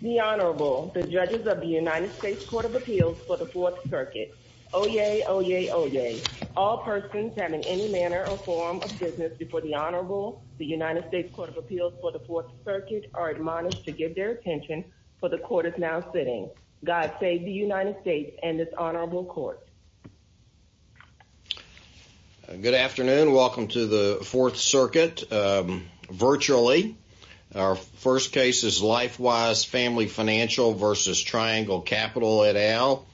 The Honorable, the Judges of the United States Court of Appeals for the Fourth Circuit. Oyez, oyez, oyez. All persons having any manner or form of business before the Honorable, the United States Court of Appeals for the Fourth Circuit are admonished to give their attention for the Court is now sitting. God save the United States and this Honorable Court. Good afternoon. Welcome to the Fourth Circuit virtually. Our first case is LifeWise Family Financial v. Triangle Capital et al.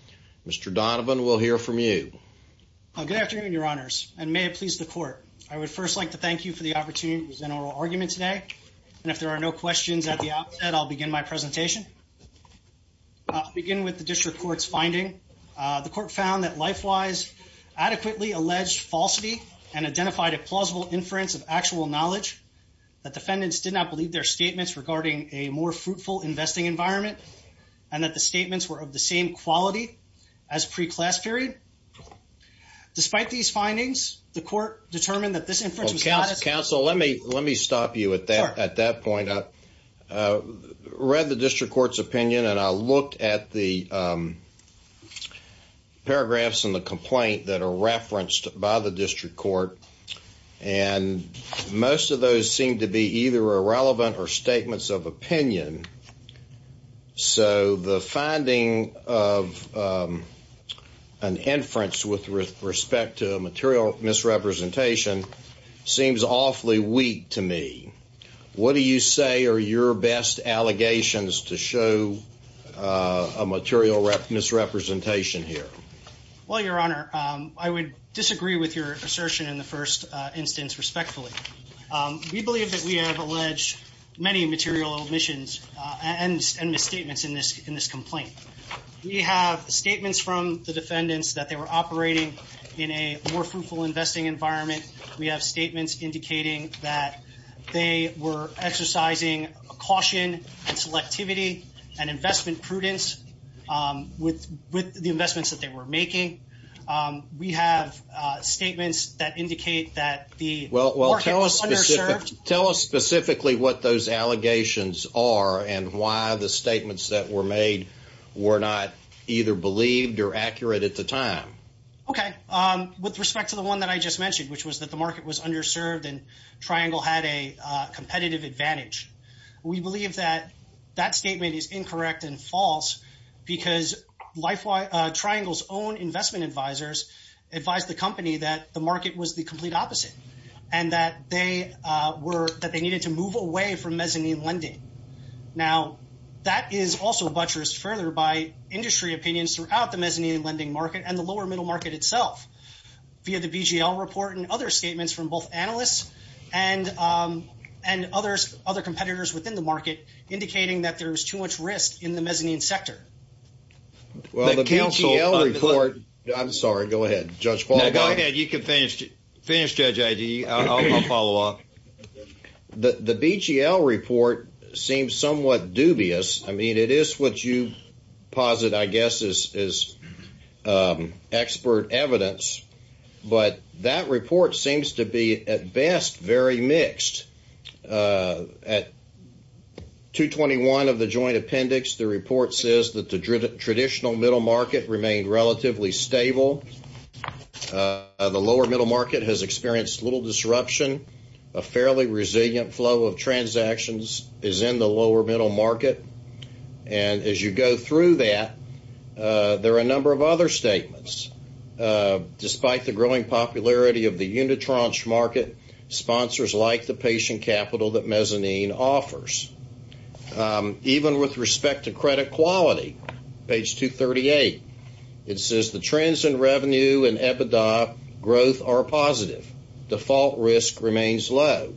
Mr. Donovan, we'll hear from you. Good afternoon, Your Honors, and may it please the Court. I would first like to thank you for the opportunity to present our argument today, and if there are no questions at the outset, I'll begin my presentation. I'll begin with the District Court's finding. The Court found that LifeWise adequately alleged falsity and identified a plausible inference of actual knowledge, that defendants did not believe their statements regarding a more fruitful investing environment, and that the statements were of the same quality as pre-class period. Despite these findings, the Court determined that this inference was not a... Counsel, let me, let me stop you at that, at that point. I read the District Court's opinion, and I looked at the paragraphs in the complaint that are referenced by the District Court, and most of those seem to be either irrelevant or statements of opinion, so the finding of an inference with respect to material misrepresentation seems awfully weak to me. What do you say are your best allegations to show a material misrepresentation here? Well, Your Honor, I would disagree with your assertion in the first instance, respectfully. We believe that we have alleged many material omissions and misstatements in this, in this complaint. We have statements from the defendants that they were operating in a more fruitful investing environment. We have statements indicating that they were exercising caution and selectivity and investment prudence with, with the investments that they were making. We have statements that indicate that the... Well, well, tell us, tell us specifically what those allegations are, and why the statements that were made were not either believed or accurate at the time. Okay, with respect to the one that I just mentioned, which was that the market was underserved and Triangle had a competitive advantage, we believe that that statement is incorrect and false, because Triangle's own investment advisors advised the company that the market was the complete opposite, and that they were, that they needed to move away from mezzanine lending. Now, that is also buttressed further by industry opinions throughout the mezzanine lending market and the lower middle market itself. Via the BGL report and other statements from both analysts and, and others, other competitors within the market, indicating that there's too much risk in the mezzanine sector. Well, the BGL report... I'm sorry, go ahead, Judge Paul. Go ahead, you can finish, finish, Judge Agee. I'll follow up. The BGL report seems somewhat dubious. I mean, it is what you posit, I guess, is expert evidence. But that report seems to be, at best, very mixed. At 221 of the joint appendix, the report says that the traditional middle market remained relatively stable. The lower middle market has experienced little disruption. A fairly resilient flow of the lower middle market. And as you go through that, there are a number of other statements. Despite the growing popularity of the Unitron's market, sponsors like the patient capital that mezzanine offers. Even with respect to credit quality, page 238, it says the trends in revenue and EBITDA growth are positive. Default risk remains low.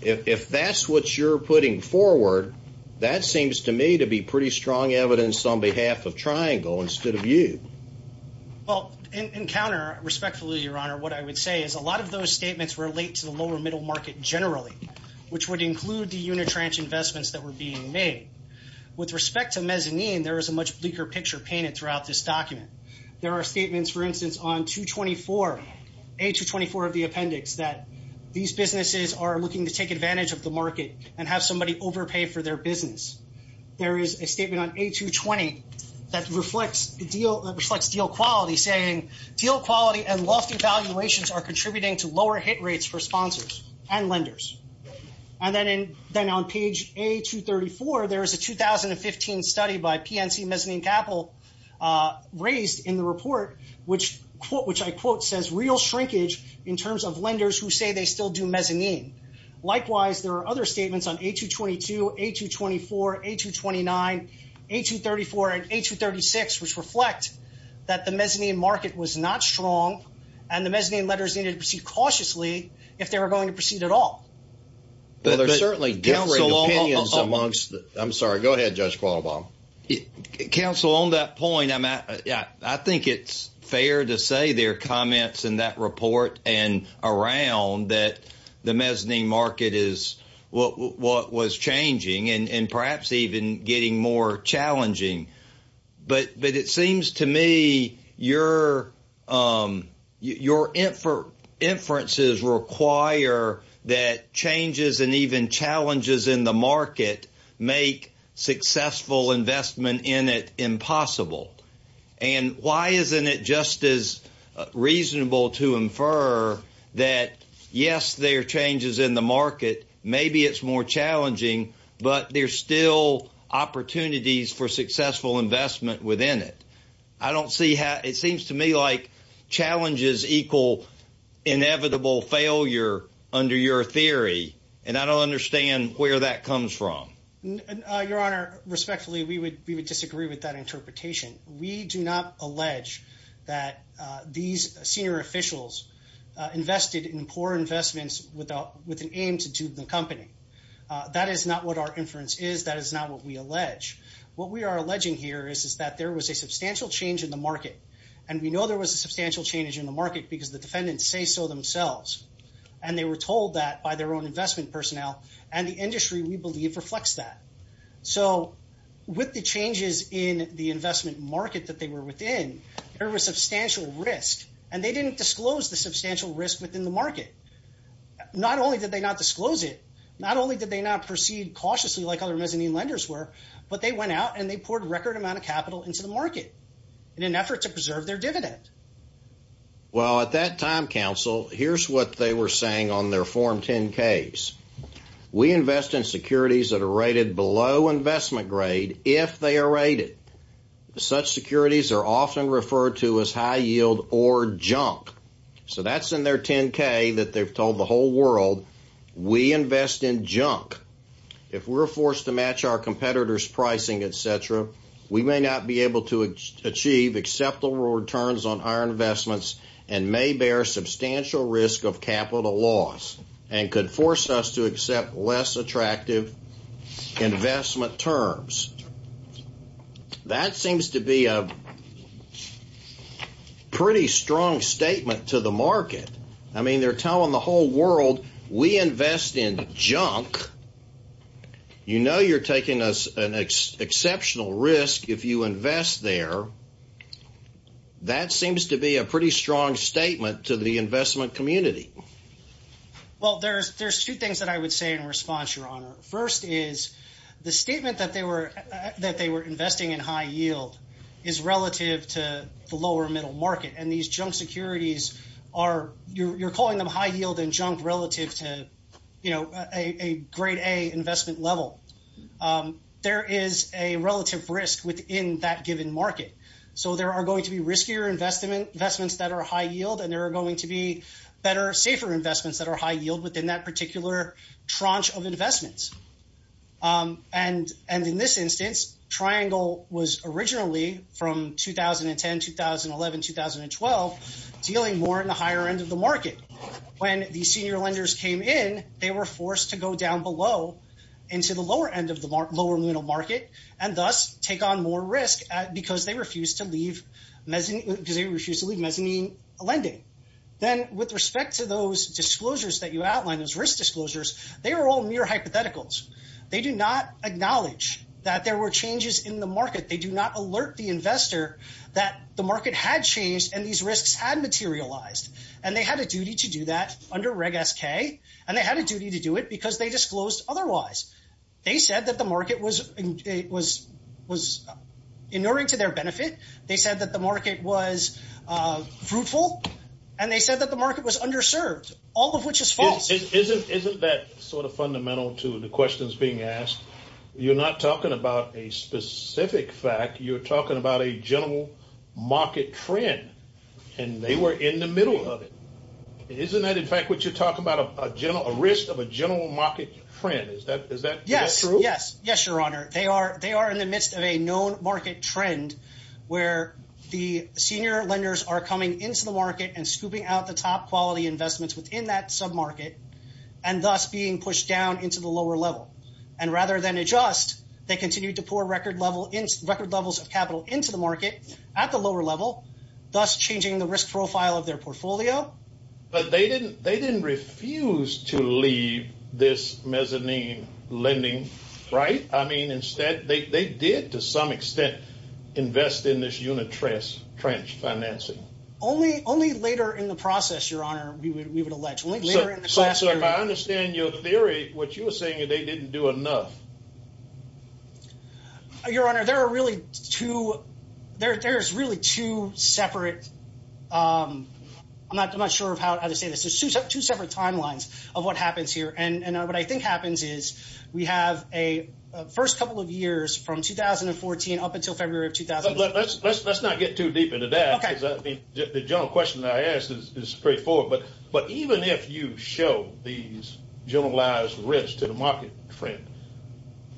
If that's what you're putting forward, that seems to me to be pretty strong evidence on behalf of Triangle instead of you. Well, in counter, respectfully, Your Honor, what I would say is a lot of those statements relate to the lower middle market generally, which would include the Unitrans investments that were being made. With respect to mezzanine, there is a much bleaker picture painted throughout this document. There are statements, for the appendix, that these businesses are looking to take advantage of the market and have somebody overpay for their business. There is a statement on A220 that reflects deal quality saying, deal quality and lofty valuations are contributing to lower hit rates for sponsors and lenders. And then on page A234, there is a 2015 study by PNC in terms of lenders who say they still do mezzanine. Likewise, there are other statements on A222, A224, A229, A234, and A236, which reflect that the mezzanine market was not strong and the mezzanine lenders needed to proceed cautiously if they were going to proceed at all. But there are certainly differing opinions amongst, I'm sorry, go ahead, Judge Qualibaut. Counsel, on that point, I think it's fair to say there are comments in that report and around that the mezzanine market is what was changing and perhaps even getting more challenging. But it seems to me your inferences require that changes and even And why isn't it just as reasonable to infer that, yes, there are changes in the market, maybe it's more challenging, but there's still opportunities for successful investment within it. I don't see how, it seems to me like challenges equal inevitable failure under your theory, and I don't understand where that comes from. Your Honor, respectfully, we would disagree with that interpretation. We do not allege that these senior officials invested in poor investments with an aim to do the company. That is not what our inference is, that is not what we allege. What we are alleging here is that there was a substantial change in the market, and we know there was a substantial change in the market because the defendants say so themselves. And they were told that by their own investment personnel, and the industry, we believe, reflects that. So with the changes in the investment market that they were within, there was substantial risk, and they didn't disclose the substantial risk within the market. Not only did they not disclose it, not only did they not proceed cautiously like other mezzanine lenders were, but they went out and they poured record amount of capital into the market in an effort to preserve their dividend. Well, at that time, counsel, here's what they were saying on their Form 10-Ks. We invest in securities that are rated below investment grade if they are rated. Such securities are often referred to as high yield or junk. So that's in their 10-K that they've told the whole world, we invest in junk. If we're forced to match our competitors' pricing, et cetera, we may not be able to achieve acceptable returns on our investments, and may bear substantial risk of capital loss, and could force us to accept less attractive investment terms. That seems to be a pretty strong statement to the market. I mean, they're telling the whole world, we invest in junk. You know you're taking an exceptional risk if you invest there. That seems to be a pretty strong statement to the investment community. Well, there's two things that I would say in response, Your Honor. First is, the statement that they were investing in high yield is relative to the lower middle market, and these junk securities are, you're calling them high yield and junk relative to, you know, a grade A investment level. There is a relative risk within that given market. So there are going to be riskier investments that are high yield, and there are going to be better, safer investments that are high yield within that particular tranche of investments. And in this instance, Triangle was originally from 2010, 2011, 2012, dealing more in the higher end of the market. When the senior lenders came in, they were forced to go down below into the lower end of the lower middle market, and thus take on more risk because they refused to leave mezzanine lending. Then with respect to those disclosures that you outlined, those risk disclosures, they were all mere hypotheticals. They do not acknowledge that there were changes in the market. They do not alert the investor that the market had changed and these risks had materialized. And they had a duty to do that otherwise. They said that the market was, was, was inuring to their benefit. They said that the market was fruitful. And they said that the market was underserved, all of which is false. Isn't that sort of fundamental to the questions being asked? You're not talking about a specific fact, you're talking about a general market trend. And they were in the middle of it. Isn't that in fact, what you're talking about a general risk of a general market trend? Is that is that? Yes, yes. Yes, Your Honor, they are they are in the midst of a known market trend, where the senior lenders are coming into the market and scooping out the top quality investments within that sub market, and thus being pushed down into the lower level. And rather than adjust, they continue to pour record level in record levels of capital into the market at the lower level, thus changing the risk profile of their portfolio. But they didn't they didn't refuse to leave this mezzanine lending, right? I mean, instead, they did, to some extent, invest in this unit trace trench financing, only only later in the process, Your Honor, we would we would allege later in the class. So if I understand your theory, what you were saying is they didn't do enough. Your Honor, there are really two, there's really two separate. I'm not sure of how to say this is two separate timelines of what happens here. And what I think happens is, we have a first couple of years from 2014, up until February of 2000. Let's let's let's not get too deep into that. The general question I asked is straightforward. But But even if you show these generalized risk to the market trend,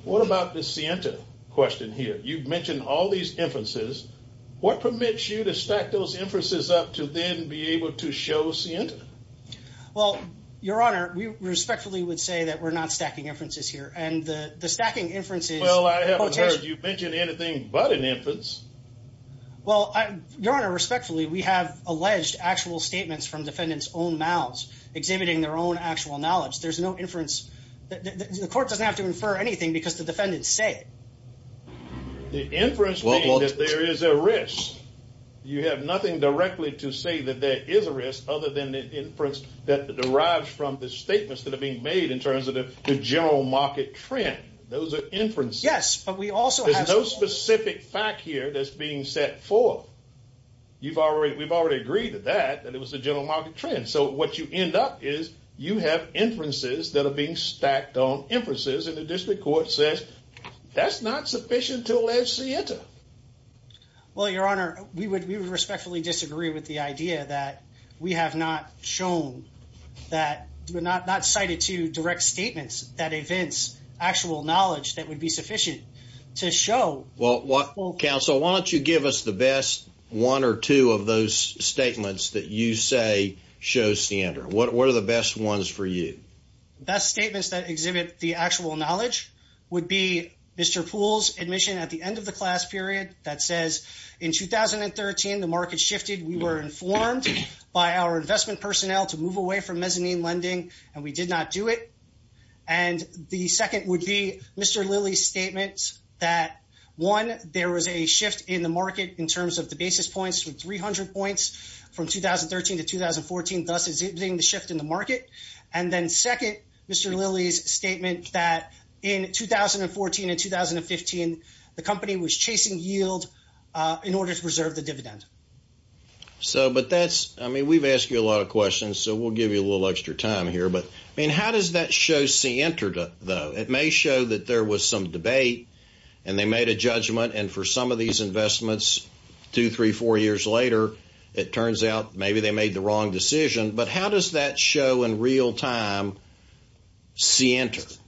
what about the Santa question here, you've mentioned all these inferences, what permits you to stack those inferences up to then be able to show Santa? Well, Your Honor, we respectfully would say that we're not stacking inferences here. And the the stacking inferences. Well, I haven't heard you mentioned anything but an inference. Well, Your Honor, respectfully, we have alleged actual statements from defendants own mouths, exhibiting their own actual knowledge. There's no inference that the court doesn't have to infer anything because the defendants say the inference, there is a risk. You have nothing directly to say that there is a risk other than the inference that derives from the statements that are being made in terms of the general market trend. Those are inferences. Yes, but we also have no specific fact here that's being set forth. You've already we've already agreed to that and it was the general market trend. So what you end up is you have inferences that are being stacked on inferences and the district court says that's not sufficient to allege Santa. Well, Your Honor, we would we would respectfully disagree with the idea that we have not shown that we're not not cited to direct statements that events actual knowledge that would be sufficient to show. Well, counsel, why don't you give us the best one or two of those statements that you say show Santa? What are the best ones for you? Best statements that exhibit the actual knowledge would be Mr. Poole's admission at the end of the class period that says in 2013, the market shifted. We were informed by our investment personnel to move away from mezzanine lending, and we did not do it. And the second would be Mr. Lilly's statements that one, there was a shift in the market. And then second, Mr. Lilly's statement that in 2014 and 2015, the company was chasing yield in order to preserve the dividend. So but that's I mean, we've asked you a lot of questions. So we'll give you a little extra time here. But I mean, how does that show see entered, though, it may show that there was some does that show in real time? See enters?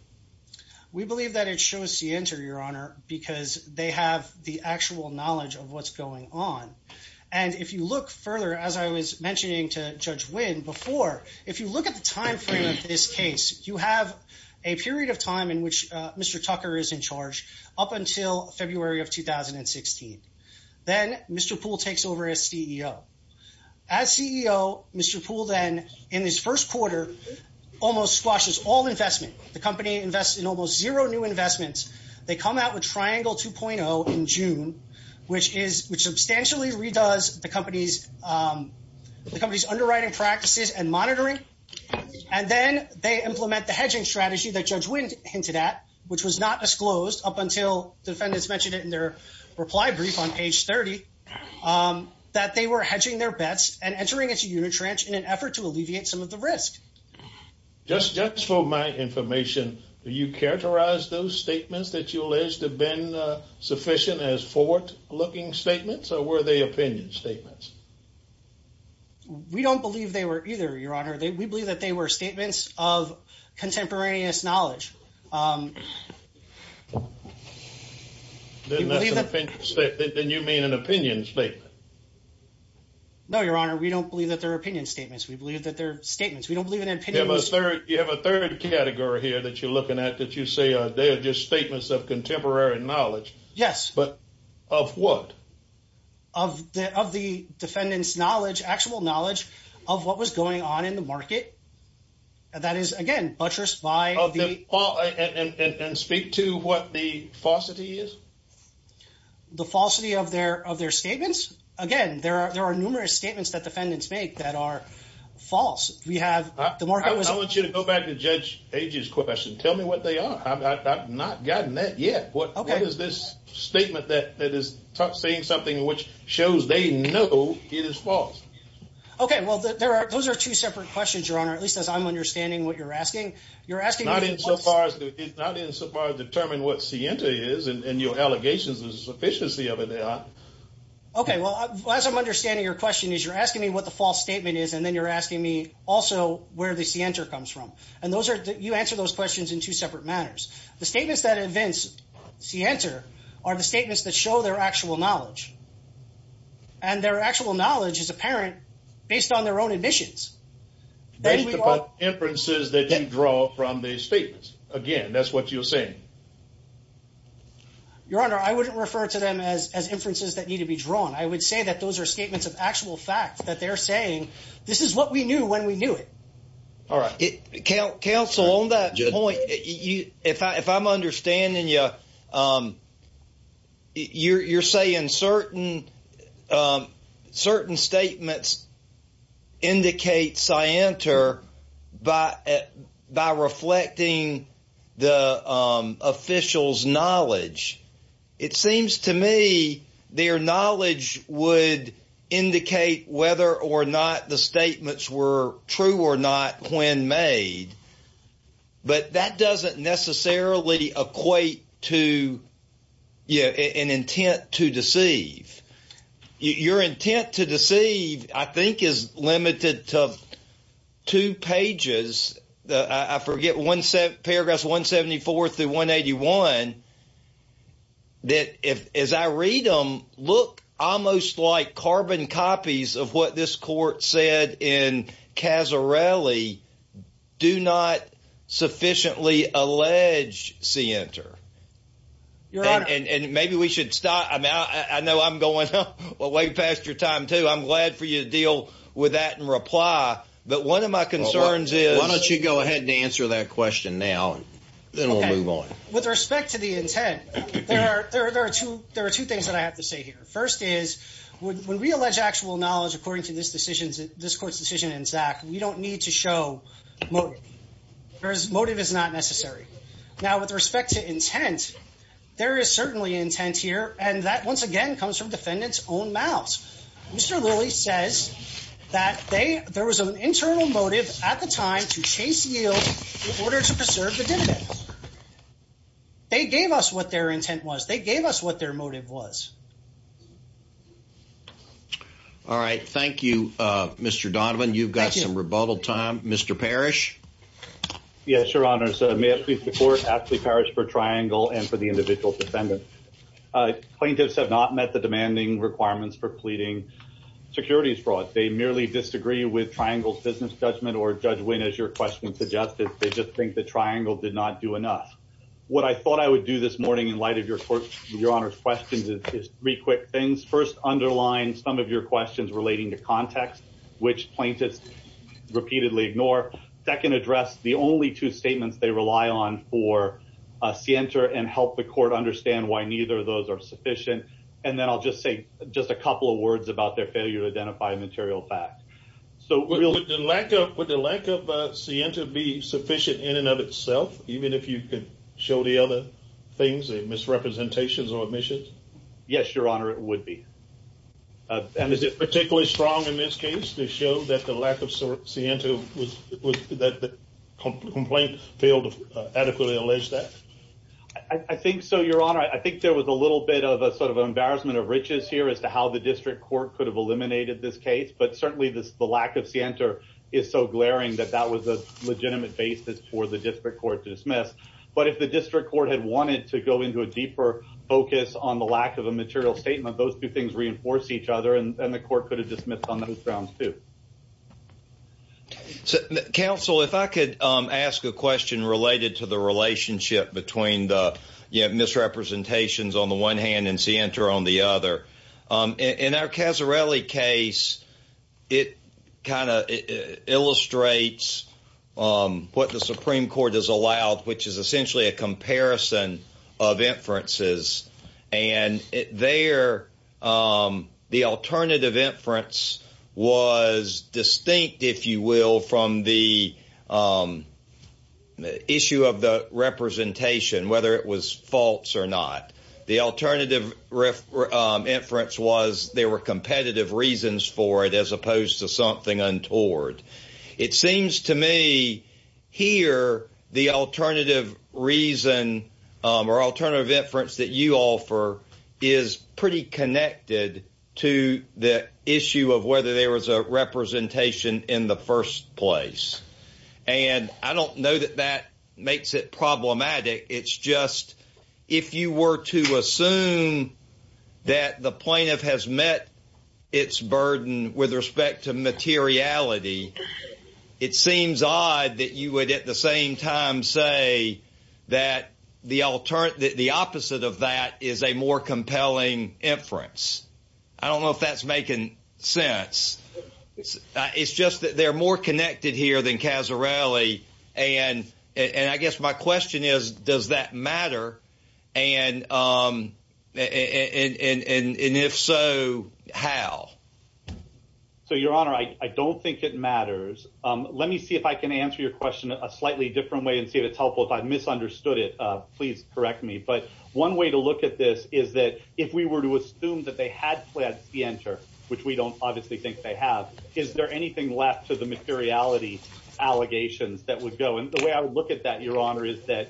We believe that it shows the answer, Your Honor, because they have the actual knowledge of what's going on. And if you look further, as I was mentioning to Judge win before, if you look at the in this first quarter, almost squashes all investment, the company invests in almost zero new investments. They come out with triangle 2.0 in June, which is which substantially redoes the company's the company's underwriting practices and monitoring. And then they implement the hedging strategy that Judge Witten hinted at, which was not disclosed up until defendants mentioned it in their reply brief on page 30 that they were hedging their bets and entering its unit ranch in an effort to alleviate some of the risk. Just just for my information. Do you characterize those statements that you alleged have been sufficient as forward looking statements or were they opinion statements? We don't believe they were either. Your Honor, we believe that they were statements of contemporaneous knowledge. Then you mean an opinion statement? No, Your Honor, we don't believe that their opinion statements. We believe that their statements. We don't believe in an opinion. You have a third category here that you're looking at that you say they're just statements of contemporary knowledge. Yes, but of what? Of the of the defendant's knowledge, actual knowledge of what was going on in the market. And that is, again, buttressed by the law and speak to what the falsity is. The falsity of their of their statements. Again, there are there are numerous statements that defendants make that are false. I want you to go back to Judge Agee's question. Tell me what they are. I've not gotten that yet. What is this statement that that is saying something which shows they know it is false? OK, well, there are those are two separate questions, Your Honor, at least as I'm understanding what you're asking. You're asking not in so far as not in so far as determine what Sienta is and your allegations of sufficiency of it. OK, well, as I'm understanding, your question is you're asking me what the false statement is. And then you're asking me also where the center comes from. And those are you answer those questions in two separate matters. The statements that events see answer are the statements that show their actual knowledge. And their actual knowledge is apparent based on their own admissions. They have inferences that draw from these statements. Again, that's what you're saying. Your Honor, I wouldn't refer to them as as inferences that need to be drawn. I would say that those are statements of actual fact that they're saying this is what we knew when we knew it. All right. Counsel on that point. If I'm understanding you, you're saying certain certain statements indicate Sienta by by reflecting the official's knowledge. It seems to me their knowledge would indicate whether or not the statements were true or not when made. But that doesn't necessarily equate to an intent to deceive. Your intent to deceive, I think, is limited to two pages. I forget one paragraph, 174 through 181. That is, I read them look almost like carbon copies of what this court said in Casarelli. Do not sufficiently allege see enter. Your Honor, and maybe we should stop. I know I'm going way past your time, too. I'm glad for you to deal with that and reply. But one of my concerns is, why don't you go ahead and answer that question now and then we'll move on. With respect to the intent, there are two things that I have to say here. First is when we allege actual knowledge, according to this decision, this court's decision in Zach, we don't need to show motive. Motive is not necessary. Now, with respect to intent, there is certainly intent here. And that, once again, comes from defendants' own mouths. Mr. Lilly says that there was an internal motive at the time to chase yield in order to preserve the dividends. They gave us what their intent was. They gave us what their motive was. All right. Thank you, Mr. Donovan. You've got some rebuttal time. Mr. Parrish. Yes, Your Honor. May it please the court, Ashley Parrish for Triangle and for the individual defendant. Plaintiffs have not met the demanding requirements for pleading securities fraud. They merely disagree with Triangle's business judgment or Judge Wynn, as your question suggested. They just think that Triangle did not do enough. What I thought I would do this morning in light of Your Honor's questions is three quick things. First, underline some of your questions relating to context, which plaintiffs repeatedly ignore. Second, address the only two statements they rely on for Sienta and help the court understand why neither of those are sufficient. And then I'll just say just a couple of words about their failure to identify a material fact. Would the lack of Sienta be sufficient in and of itself, even if you could show the other things, the misrepresentations or omissions? Yes, Your Honor, it would be. And is it particularly strong in this case to show that the lack of Sienta, that the complaint failed to adequately allege that? I think so, Your Honor. I think there was a little bit of a sort of embarrassment of riches here as to how the district court could have eliminated this case. But certainly the lack of Sienta is so glaring that that was a legitimate basis for the district court to dismiss. But if the district court had wanted to go into a deeper focus on the lack of a material statement, those two things reinforce each other and the court could have dismissed on those grounds, too. Counsel, if I could ask a question related to the relationship between the misrepresentations on the one hand and Sienta on the other. In our Casarelli case, it kind of illustrates what the Supreme Court has allowed, which is essentially a comparison of inferences. And there, the alternative inference was distinct, if you will, from the issue of the representation, whether it was false or not. The alternative inference was there were competitive reasons for it as opposed to something untoward. It seems to me here the alternative reason or alternative inference that you offer is pretty connected to the issue of whether there was a representation in the first place. And I don't know that that makes it problematic. It's just if you were to assume that the plaintiff has met its burden with respect to materiality, it seems odd that you would at the same time say that the opposite of that is a more compelling inference. I don't know if that's making sense. It's just that they're more connected here than Casarelli. And I guess my question is, does that matter? And if so, how? So, Your Honor, I don't think it matters. Let me see if I can answer your question a slightly different way and see if it's helpful. If I misunderstood it, please correct me. But one way to look at this is that if we were to assume that they had fled Skienter, which we don't obviously think they have, is there anything left to the materiality allegations that would go? And the way I would look at that, Your Honor, is that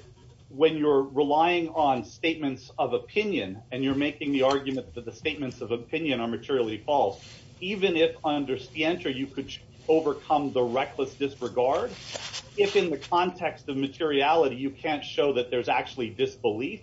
when you're relying on statements of opinion and you're making the argument that the statements of opinion are materially false, even if under Skienter you could overcome the reckless disregard, if in the context of materiality you can't show that there's actually disbelief,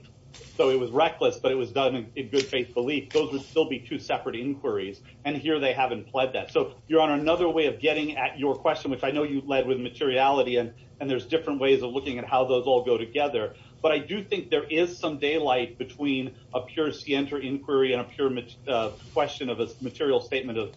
so it was reckless but it was done in good faith belief, those would still be two separate inquiries. And here they haven't fled that. So, Your Honor, another way of getting at your question, which I know you've led with materiality and there's different ways of looking at how those all go together, but I do think there is some daylight between a pure Skienter inquiry and a pure question of a material statement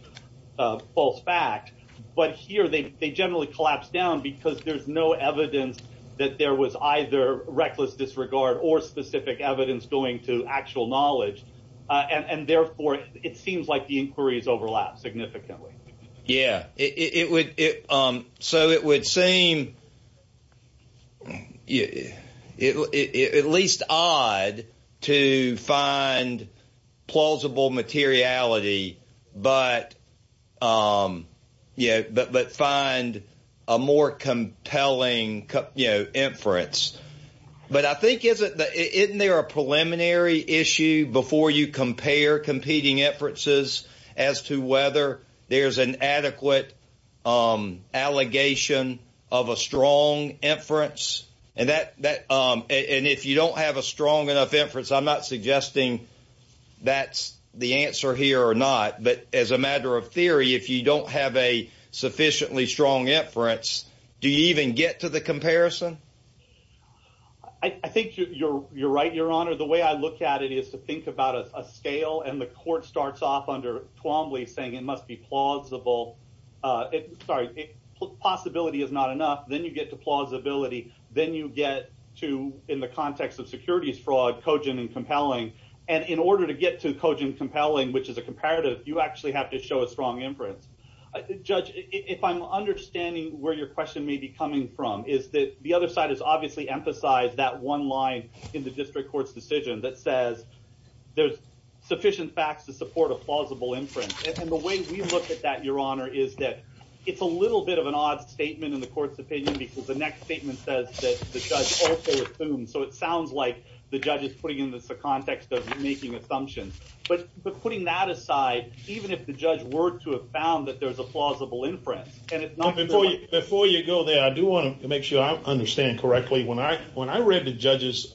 of false fact. But here they generally collapse down because there's no evidence that there was either reckless disregard or specific evidence going to actual knowledge. And therefore, it seems like the inquiries overlap significantly. Yeah, so it would seem at least odd to find plausible materiality but find a more compelling inference. But I think isn't there a preliminary issue before you compare competing inferences as to whether there's an adequate allegation of a strong inference? And if you don't have a strong enough inference, I'm not suggesting that's the answer here or not, but as a matter of theory, if you don't have a sufficiently strong inference, do you even get to the comparison? I think you're right, Your Honor. The way I look at it is to think about a scale, and the court starts off under Twombly saying it must be plausible. Sorry, possibility is not enough. Then you get to plausibility. Then you get to, in the context of securities fraud, cogent and compelling. And in order to get to cogent and compelling, which is a comparative, you actually have to show a strong inference. Judge, if I'm understanding where your question may be coming from, is that the other side has obviously emphasized that one line in the district court's decision that says there's sufficient facts to support a plausible inference. And the way we look at that, Your Honor, is that it's a little bit of an odd statement in the court's opinion because the next statement says that the judge also assumes. So it sounds like the judge is putting it in the context of making assumptions. But putting that aside, even if the judge were to have found that there's a plausible inference. Before you go there, I do want to make sure I understand correctly. When I read the judge's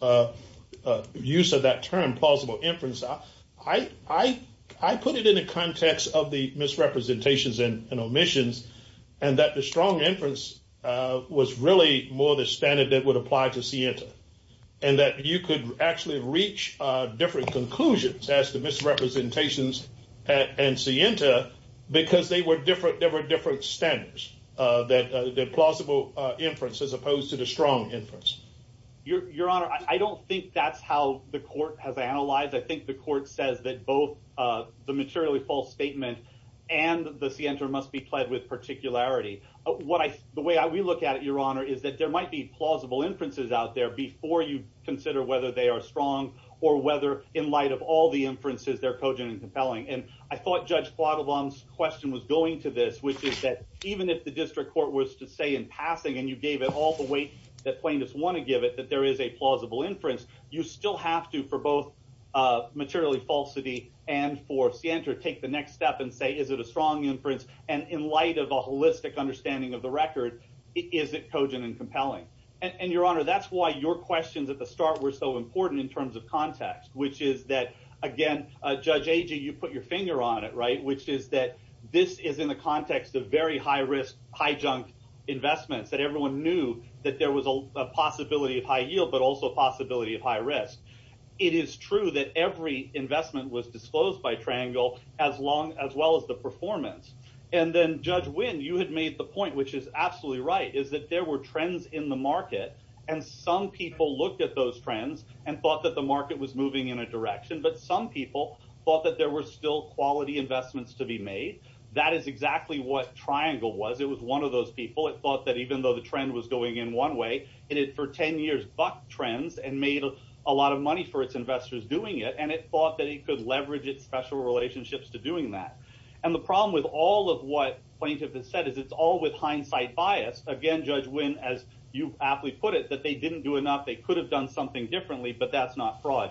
use of that term, plausible inference, I put it in the context of the misrepresentations and omissions, and that the strong inference was really more the standard that would apply to SIENTA. And that you could actually reach different conclusions as to misrepresentations and SIENTA because there were different standards, the plausible inference as opposed to the strong inference. Your Honor, I don't think that's how the court has analyzed. I think the court says that both the materially false statement and the SIENTA must be pled with particularity. The way we look at it, Your Honor, is that there might be plausible inferences out there before you consider whether they are strong or whether, in light of all the inferences, they're cogent and compelling. And I thought Judge Quattlebaum's question was going to this, which is that even if the district court was to say in passing and you gave it all the weight that plaintiffs want to give it, that there is a plausible inference, you still have to, for both materially falsity and for SIENTA, take the next step and say, is it a strong inference? And in light of a holistic understanding of the record, is it cogent and compelling? And, Your Honor, that's why your questions at the start were so important in terms of context, which is that, again, Judge Agee, you put your finger on it, right, which is that this is in the context of very high-risk, high-junk investments that everyone knew that there was a possibility of high yield but also a possibility of high risk. It is true that every investment was disclosed by Triangle, as well as the performance. And then, Judge Wynn, you had made the point, which is absolutely right, is that there were trends in the market, and some people looked at those trends and thought that the market was moving in a direction, but some people thought that there were still quality investments to be made. That is exactly what Triangle was. It was one of those people. It thought that even though the trend was going in one way, it had, for 10 years, bucked trends and made a lot of money for its investors doing it, and it thought that it could leverage its special relationships to doing that. And the problem with all of what plaintiff has said is it's all with hindsight bias. Again, Judge Wynn, as you aptly put it, that they didn't do enough, they could have done something differently, but that's not fraud.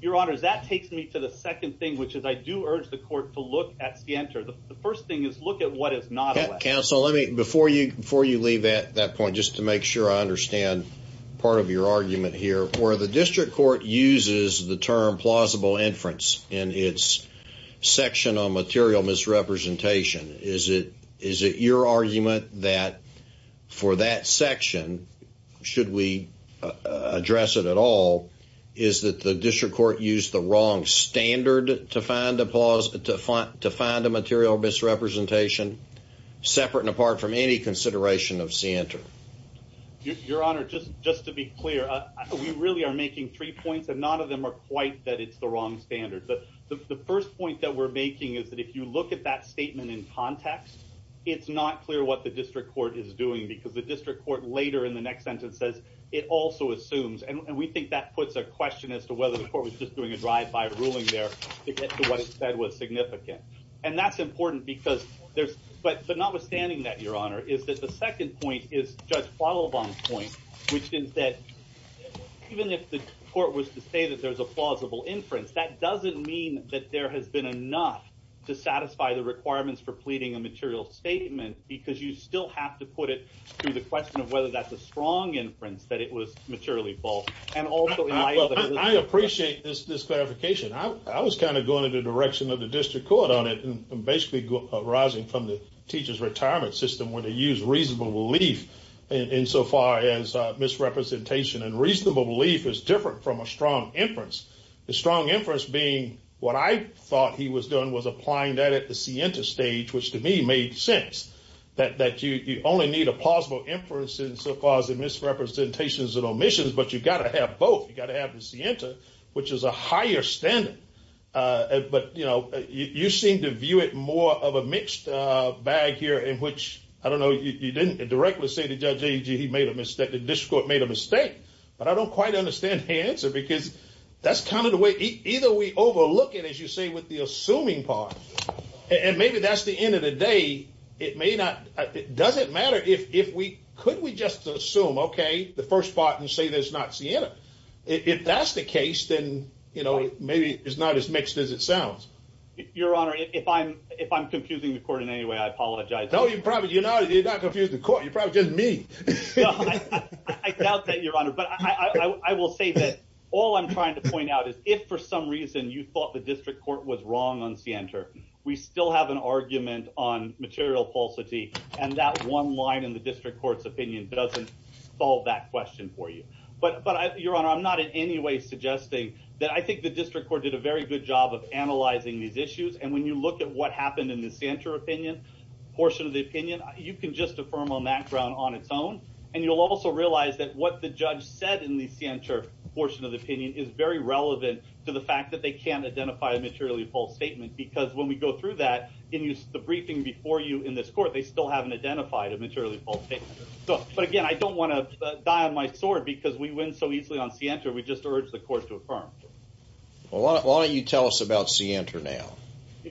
Your Honor, that takes me to the second thing, which is I do urge the court to look at scienter. The first thing is look at what is not a lesson. Counsel, before you leave at that point, just to make sure I understand part of your argument here, where the district court uses the term plausible inference in its section on material misrepresentation, is it your argument that for that section, should we address it at all, is that the district court used the wrong standard to find a material misrepresentation separate and apart from any consideration of scienter? Your Honor, just to be clear, we really are making three points, and none of them are quite that it's the wrong standard. The first point that we're making is that if you look at that statement in context, it's not clear what the district court is doing, because the district court later in the next sentence says it also assumes. And we think that puts a question as to whether the court was just doing a drive-by ruling there to get to what it said was significant. And that's important, but notwithstanding that, Your Honor, is that the second point is Judge Quattlebaum's point, which is that even if the court was to say that there's a plausible inference, that doesn't mean that there has been enough to satisfy the requirements for pleading a material statement, because you still have to put it through the question of whether that's a strong inference that it was materially false. I appreciate this clarification. I was kind of going in the direction of the district court on it and basically arising from the teacher's retirement system where they use reasonable belief insofar as misrepresentation. And reasonable belief is different from a strong inference, a strong inference being what I thought he was doing was applying that at the scienter stage, which to me made sense, that you only need a plausible inference insofar as the misrepresentations and omissions, but you've got to have both. You've got to have the scienter, which is a higher standard. But, you know, you seem to view it more of a mixed bag here in which, I don't know, you didn't directly say to Judge Agee he made a mistake, the district court made a mistake, but I don't quite understand his answer, because that's kind of the way either we overlook it, as you say, with the assuming part. And maybe that's the end of the day. It may not. It doesn't matter. If we could, we just assume, OK, the first part and say there's not Sienna. If that's the case, then, you know, maybe it's not as mixed as it sounds. Your Honor, if I'm if I'm confusing the court in any way, I apologize. No, you probably you're not. You're not confusing the court. You probably just me. I doubt that, Your Honor. But I will say that all I'm trying to point out is if for some reason you thought the district court was wrong on center, we still have an argument on material falsity. And that one line in the district court's opinion doesn't solve that question for you. But but your honor, I'm not in any way suggesting that. I think the district court did a very good job of analyzing these issues. And when you look at what happened in the center opinion portion of the opinion, you can just affirm on that ground on its own. And you'll also realize that what the judge said in the center portion of the opinion is very relevant to the fact that they can't identify a materially false statement. Because when we go through that in the briefing before you in this court, they still haven't identified a materially false statement. But again, I don't want to die on my sword because we win so easily on center. We just urge the court to affirm. Why don't you tell us about see enter now,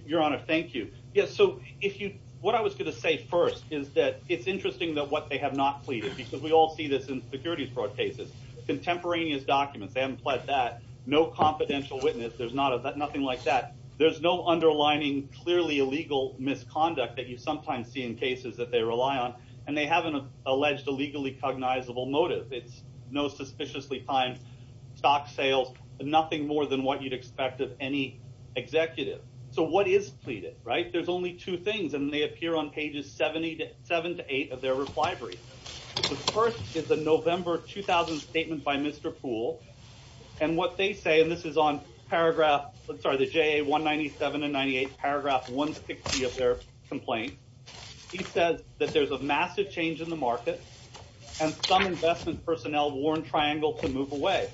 Your Honor? Thank you. Yes. So if you what I was going to say first is that it's interesting that what they have not pleaded because we all see this in security fraud cases, contemporaneous documents. They haven't pledged that no confidential witness. There's not nothing like that. There's no underlining, clearly illegal misconduct that you sometimes see in cases that they rely on. And they haven't alleged a legally cognizable motive. It's no suspiciously fine stock sales, but nothing more than what you'd expect of any executive. So what is pleaded? Right. There's only two things. And they appear on pages 70 to 7 to 8 of their reply brief. The first is the November 2000 statement by Mr. Pool. And what they say, and this is on paragraph. I'm sorry, the J. A. 197 and 98 paragraph 160 of their complaint. He says that there's a massive change in the market. And some investment personnel warn Triangle to move away.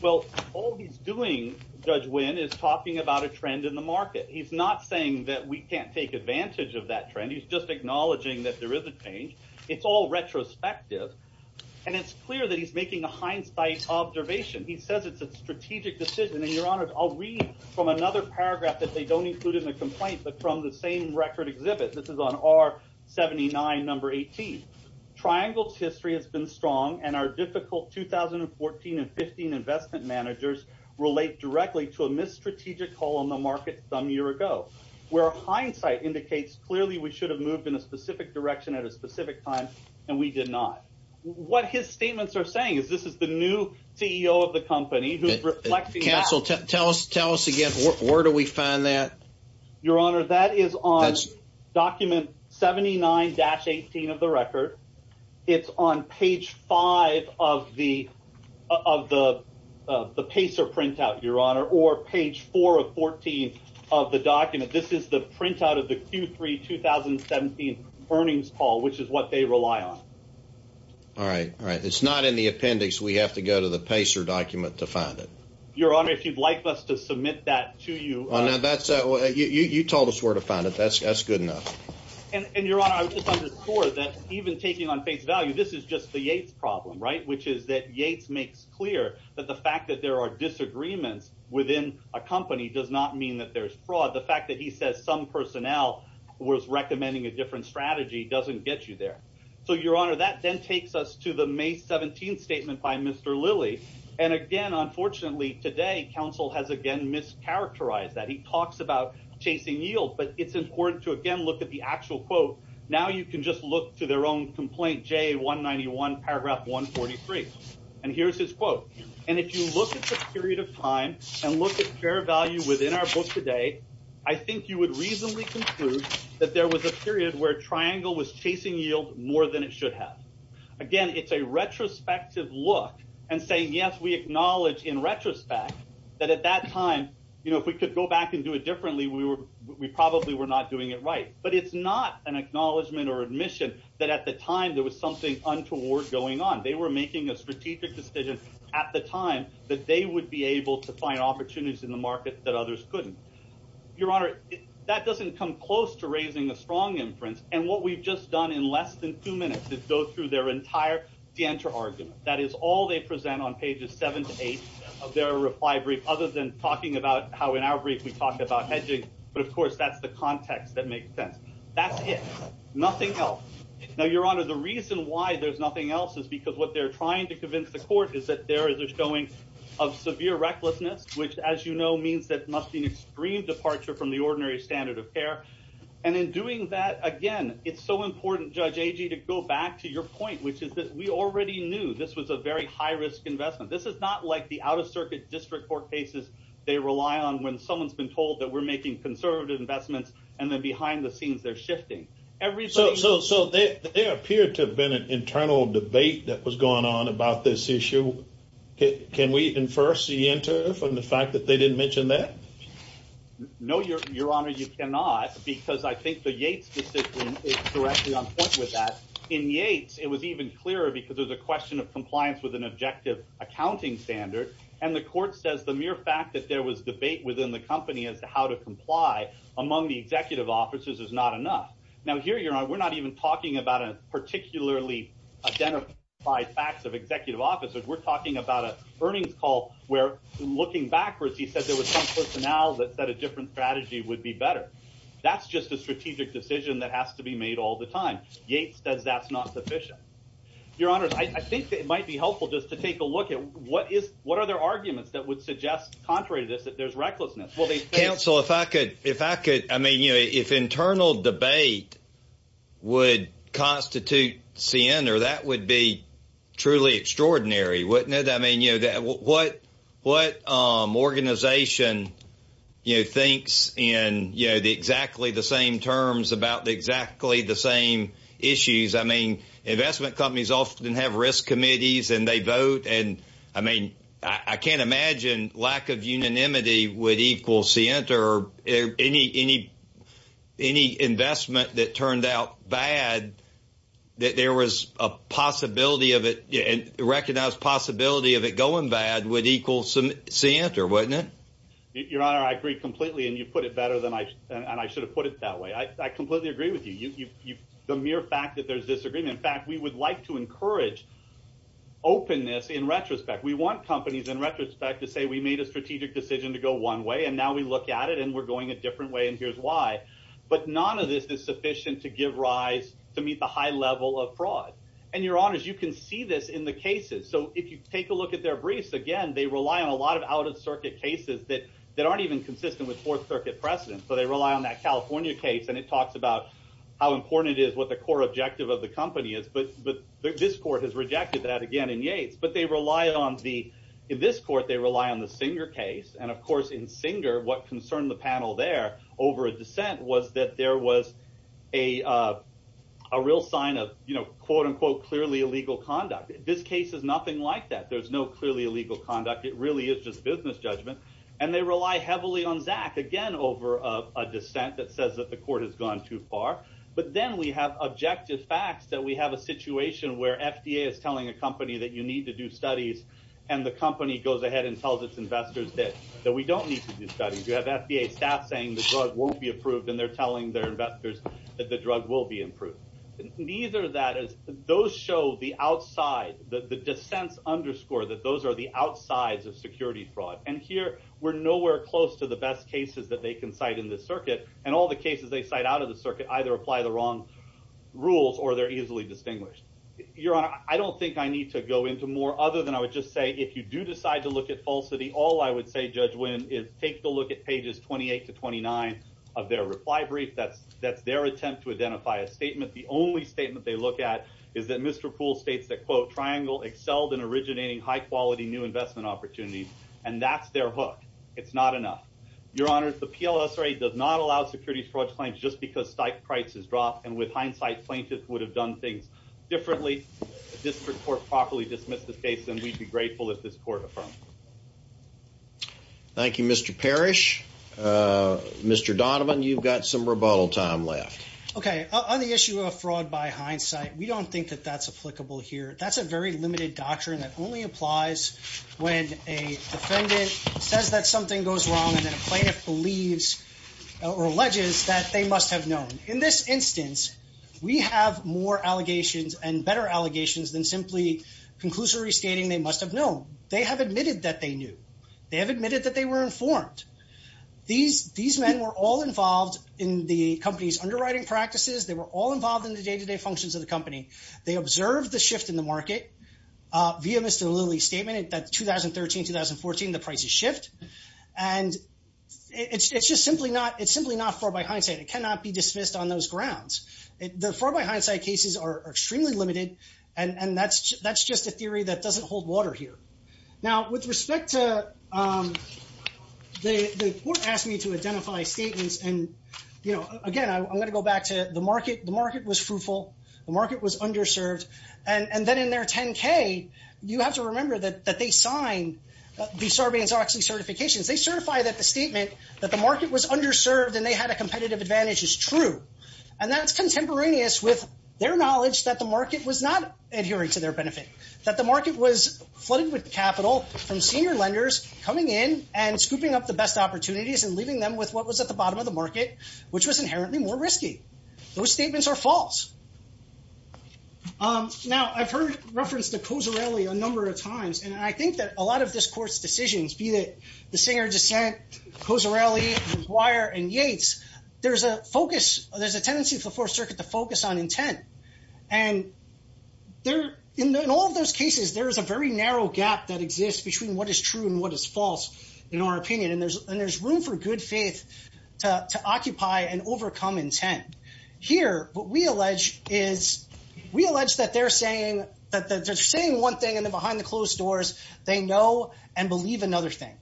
Well, all he's doing, Judge Wynn, is talking about a trend in the market. He's not saying that we can't take advantage of that trend. He's just acknowledging that there is a change. It's all retrospective. And it's clear that he's making a hindsight observation. He says it's a strategic decision. And, Your Honor, I'll read from another paragraph that they don't include in the complaint, but from the same record exhibit. This is on R. 79, number 18. Triangle's history has been strong. And our difficult 2014 and 15 investment managers relate directly to a missed strategic call on the market some year ago. Where hindsight indicates clearly we should have moved in a specific direction at a specific time, and we did not. What his statements are saying is this is the new CEO of the company who's reflecting that. Counsel, tell us again. Where do we find that? Your Honor, that is on document 79-18 of the record. It's on page 5 of the PACER printout, Your Honor, or page 4 of 14 of the document. This is the printout of the Q3 2017 earnings call, which is what they rely on. All right, all right. It's not in the appendix. We have to go to the PACER document to find it. Your Honor, if you'd like us to submit that to you. You told us where to find it. That's good enough. And, Your Honor, I would just underscore that even taking on face value, this is just the Yates problem, right, which is that Yates makes clear that the fact that there are disagreements within a company does not mean that there's fraud. The fact that he says some personnel was recommending a different strategy doesn't get you there. So, Your Honor, that then takes us to the May 17 statement by Mr. Lilly. And, again, unfortunately, today counsel has again mischaracterized that. He talks about chasing yield, but it's important to, again, look at the actual quote. Now you can just look to their own complaint, J191 paragraph 143. And here's his quote. And if you look at the period of time and look at fair value within our book today, I think you would reasonably conclude that there was a period where Triangle was chasing yield more than it should have. Again, it's a retrospective look and saying, yes, we acknowledge in retrospect that at that time, you know, if we could go back and do it differently, we probably were not doing it right. But it's not an acknowledgment or admission that at the time there was something untoward going on. They were making a strategic decision at the time that they would be able to find opportunities in the market that others couldn't. Your Honor, that doesn't come close to raising a strong inference. And what we've just done in less than two minutes is go through their entire de-enter argument. That is all they present on pages seven to eight of their reply brief other than talking about how in our brief we talked about hedging. But, of course, that's the context that makes sense. That's it. Nothing else. Now, Your Honor, the reason why there's nothing else is because what they're trying to convince the court is that there is a showing of severe recklessness, which, as you know, means that must be an extreme departure from the ordinary standard of care. And in doing that, again, it's so important, Judge Agee, to go back to your point, which is that we already knew this was a very high risk investment. This is not like the out-of-circuit district court cases they rely on when someone's been told that we're making conservative investments and then behind the scenes they're shifting. So there appeared to have been an internal debate that was going on about this issue. Can we infer, see, enter from the fact that they didn't mention that? No, Your Honor, you cannot because I think the Yates decision is directly on point with that. In Yates, it was even clearer because there's a question of compliance with an objective accounting standard. And the court says the mere fact that there was debate within the company as to how to comply among the executive officers is not enough. Now, here, Your Honor, we're not even talking about a particularly identified facts of executive officers. We're talking about a earnings call where, looking backwards, he said there was some personnel that said a different strategy would be better. That's just a strategic decision that has to be made all the time. Yates says that's not sufficient. Your Honor, I think it might be helpful just to take a look at what are their arguments that would suggest, contrary to this, that there's recklessness. Counsel, if I could, I mean, if internal debate would constitute sin or that would be truly extraordinary, wouldn't it? I mean, what organization thinks in exactly the same terms about exactly the same issues? I mean, investment companies often have risk committees and they vote. And, I mean, I can't imagine lack of unanimity would equal sin or any investment that turned out bad that there was a possibility of it, a recognized possibility of it going bad would equal sin, wouldn't it? Your Honor, I agree completely, and you put it better than I should have put it that way. I completely agree with you. The mere fact that there's disagreement. In fact, we would like to encourage openness in retrospect. We want companies in retrospect to say we made a strategic decision to go one way and now we look at it and we're going a different way and here's why. But none of this is sufficient to give rise to meet the high level of fraud. And, Your Honors, you can see this in the cases. So if you take a look at their briefs, again, they rely on a lot of out-of-circuit cases that aren't even consistent with Fourth Circuit precedent. So they rely on that California case and it talks about how important it is, what the core objective of the company is. But this court has rejected that again in Yates. But they rely on the – in this court, they rely on the Singer case. And, of course, in Singer, what concerned the panel there over a dissent was that there was a real sign of, you know, quote, unquote, clearly illegal conduct. This case is nothing like that. There's no clearly illegal conduct. It really is just business judgment. And they rely heavily on Zach again over a dissent that says that the court has gone too far. But then we have objective facts that we have a situation where FDA is telling a company that you need to do studies and the company goes ahead and tells its investors that we don't need to do studies. You have FDA staff saying the drug won't be approved and they're telling their investors that the drug will be approved. Neither of that is – those show the outside, the dissents underscore that those are the outsides of security fraud. And here we're nowhere close to the best cases that they can cite in this circuit. And all the cases they cite out of the circuit either apply the wrong rules or they're easily distinguished. Your Honor, I don't think I need to go into more other than I would just say if you do decide to look at falsity, all I would say, Judge Wynn, is take a look at pages 28 to 29 of their reply brief. That's their attempt to identify a statement. The only statement they look at is that Mr. Poole states that, quote, triangle excelled in originating high-quality new investment opportunities. And that's their hook. It's not enough. Your Honor, the PLSRA does not allow securities fraud claims just because stipe prices drop. And with hindsight, plaintiffs would have done things differently if the district court properly dismissed this case, and we'd be grateful if this court affirmed it. Thank you, Mr. Parrish. Mr. Donovan, you've got some rebuttal time left. Okay. On the issue of fraud by hindsight, we don't think that that's applicable here. That's a very limited doctrine that only applies when a defendant says that something goes wrong and then a plaintiff believes or alleges that they must have known. In this instance, we have more allegations and better allegations than simply conclusory stating they must have known. They have admitted that they knew. They have admitted that they were informed. These men were all involved in the company's underwriting practices. They were all involved in the day-to-day functions of the company. They observed the shift in the market via Mr. Lilly's statement that 2013-2014, the prices shift. And it's just simply not fraud by hindsight. It cannot be dismissed on those grounds. The fraud by hindsight cases are extremely limited, and that's just a theory that doesn't hold water here. Now, with respect to the court asking me to identify statements, and, you know, again, I'm going to go back to the market. The market was fruitful. The market was underserved. And then in their 10-K, you have to remember that they signed the Sarbanes-Oxley certifications. They certify that the statement that the market was underserved and they had a competitive advantage is true. And that's contemporaneous with their knowledge that the market was not adhering to their benefit, that the market was flooded with capital from senior lenders coming in and scooping up the best opportunities and leaving them with what was at the bottom of the market, which was inherently more risky. Those statements are false. Now, I've heard reference to Cozzarelli a number of times, and I think that a lot of this court's decisions, be that the Singer dissent, Cozzarelli, McGuire, and Yates, there's a focus, there's a tendency for the Fourth Circuit to focus on intent. And in all of those cases, there is a very narrow gap that exists between what is true and what is false, in our opinion. And there's room for good faith to occupy and overcome intent. Here, what we allege is we allege that they're saying one thing, and then behind the closed doors, they know and believe another thing.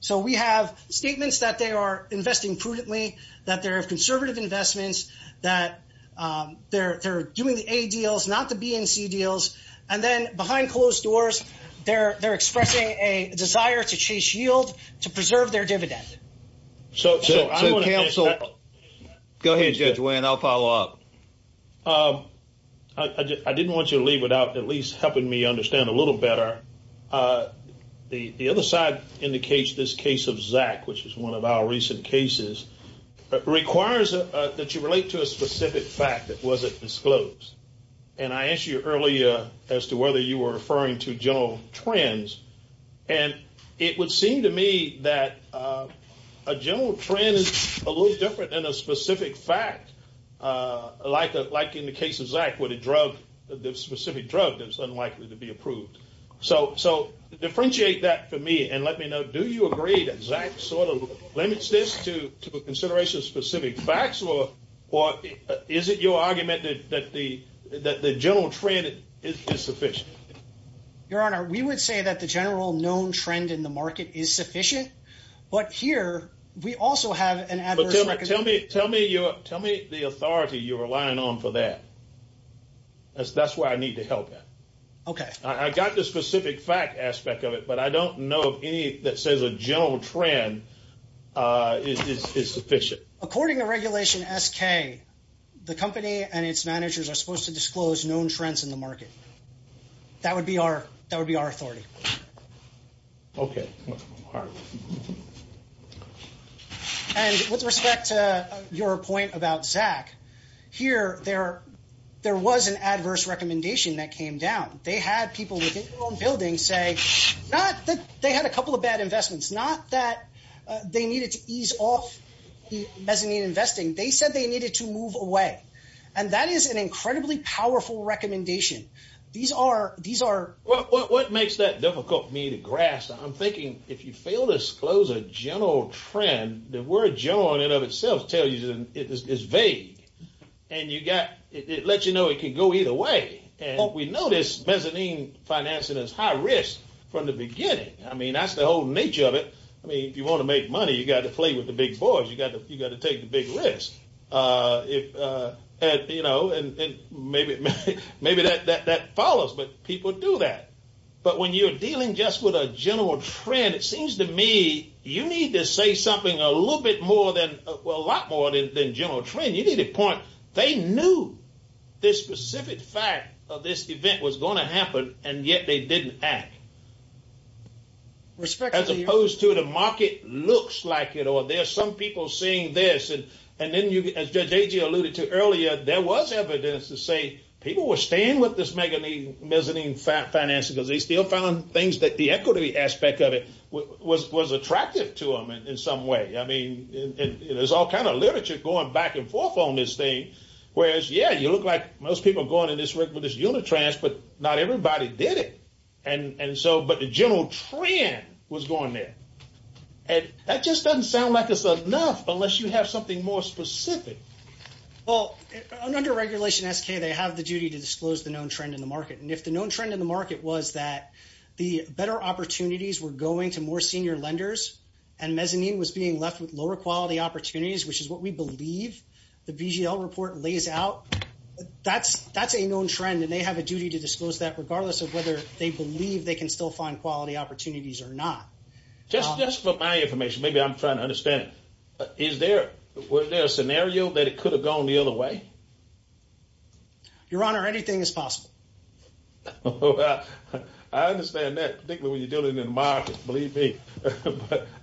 So we have statements that they are investing prudently, that they're of conservative investments, that they're doing the A deals, not the B and C deals. And then behind closed doors, they're expressing a desire to chase yield, to preserve their dividend. So counsel, go ahead, Judge Wayne. I'll follow up. I didn't want you to leave without at least helping me understand a little better. The other side indicates this case of Zack, which is one of our recent cases, requires that you relate to a specific fact that wasn't disclosed. And I asked you earlier as to whether you were referring to general trends. And it would seem to me that a general trend is a little different than a specific fact, like in the case of Zack, where the specific drug is unlikely to be approved. So differentiate that for me, and let me know, do you agree that Zack sort of limits this to consideration of specific facts, or is it your argument that the general trend is sufficient? Your Honor, we would say that the general known trend in the market is sufficient. But here, we also have an adverse- But tell me the authority you're relying on for that. That's why I need to help you. Okay. I got the specific fact aspect of it, but I don't know of any that says a general trend is sufficient. According to Regulation SK, the company and its managers are supposed to disclose known trends in the market. That would be our authority. Okay. And with respect to your point about Zack, here, there was an adverse recommendation that came down. They had people within their own building say not that they had a couple of bad investments, not that they needed to ease off mezzanine investing. They said they needed to move away. And that is an incredibly powerful recommendation. These are- What makes that difficult for me to grasp? I'm thinking if you fail to disclose a general trend, the word general in and of itself tells you it's vague. And it lets you know it can go either way. What we notice, mezzanine financing is high risk from the beginning. I mean, that's the whole nature of it. I mean, if you want to make money, you've got to play with the big boys. You've got to take the big risks. And maybe that follows, but people do that. But when you're dealing just with a general trend, it seems to me you need to say something a little bit more than-well, a lot more than general trend. You need a point. They knew this specific fact of this event was going to happen, and yet they didn't act. As opposed to the market looks like it or there's some people seeing this. And then, as Judge Agee alluded to earlier, there was evidence to say people were staying with this mezzanine financing because they still found things that the equity aspect of it was attractive to them in some way. I mean, there's all kind of literature going back and forth on this thing, whereas, yeah, you look like most people are going in this unit transfer, but not everybody did it. But the general trend was going there. And that just doesn't sound like it's enough unless you have something more specific. Well, under Regulation SK, they have the duty to disclose the known trend in the market. And if the known trend in the market was that the better opportunities were going to more senior lenders and mezzanine was being left with lower quality opportunities, which is what we believe the BGL report lays out, that's a known trend. And they have a duty to disclose that regardless of whether they believe they can still find quality opportunities or not. Just for my information, maybe I'm trying to understand, is there a scenario that it could have gone the other way? Your Honor, anything is possible. I understand that, particularly when you're dealing in the market, believe me.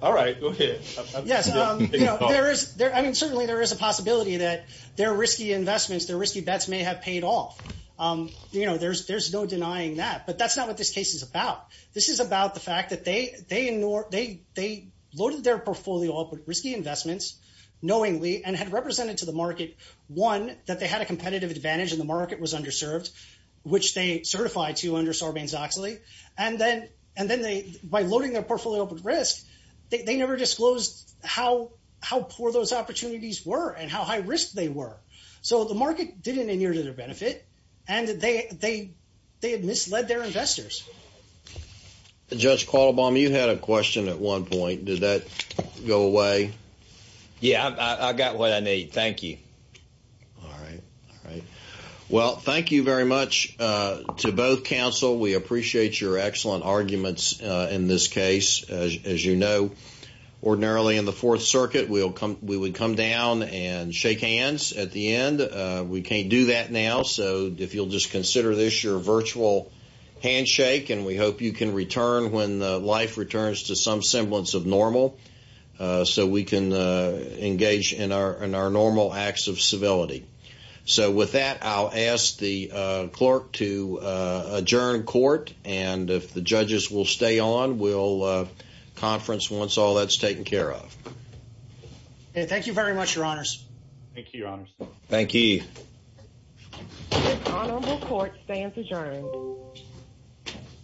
All right, go ahead. Yes. I mean, certainly there is a possibility that their risky investments, their risky bets may have paid off. You know, there's no denying that. But that's not what this case is about. This is about the fact that they loaded their portfolio up with risky investments knowingly and had represented to the market, one, that they had a competitive advantage and the market was underserved, which they certified to under Sarbanes-Oxley. And then by loading their portfolio up with risk, they never disclosed how poor those opportunities were and how high risk they were. So the market didn't adhere to their benefit, and they had misled their investors. Judge Quattlebaum, you had a question at one point. Did that go away? Yeah, I got what I need. Thank you. All right, all right. Well, thank you very much to both counsel. We appreciate your excellent arguments in this case. As you know, ordinarily in the Fourth Circuit, we would come down and shake hands at the end. We can't do that now, so if you'll just consider this your virtual handshake, and we hope you can return when life returns to some semblance of normal so we can engage in our normal acts of civility. So with that, I'll ask the clerk to adjourn court, and if the judges will stay on, we'll conference once all that's taken care of. Thank you very much, Your Honors. Thank you, Your Honors. Thank you. This honorable court stands adjourned.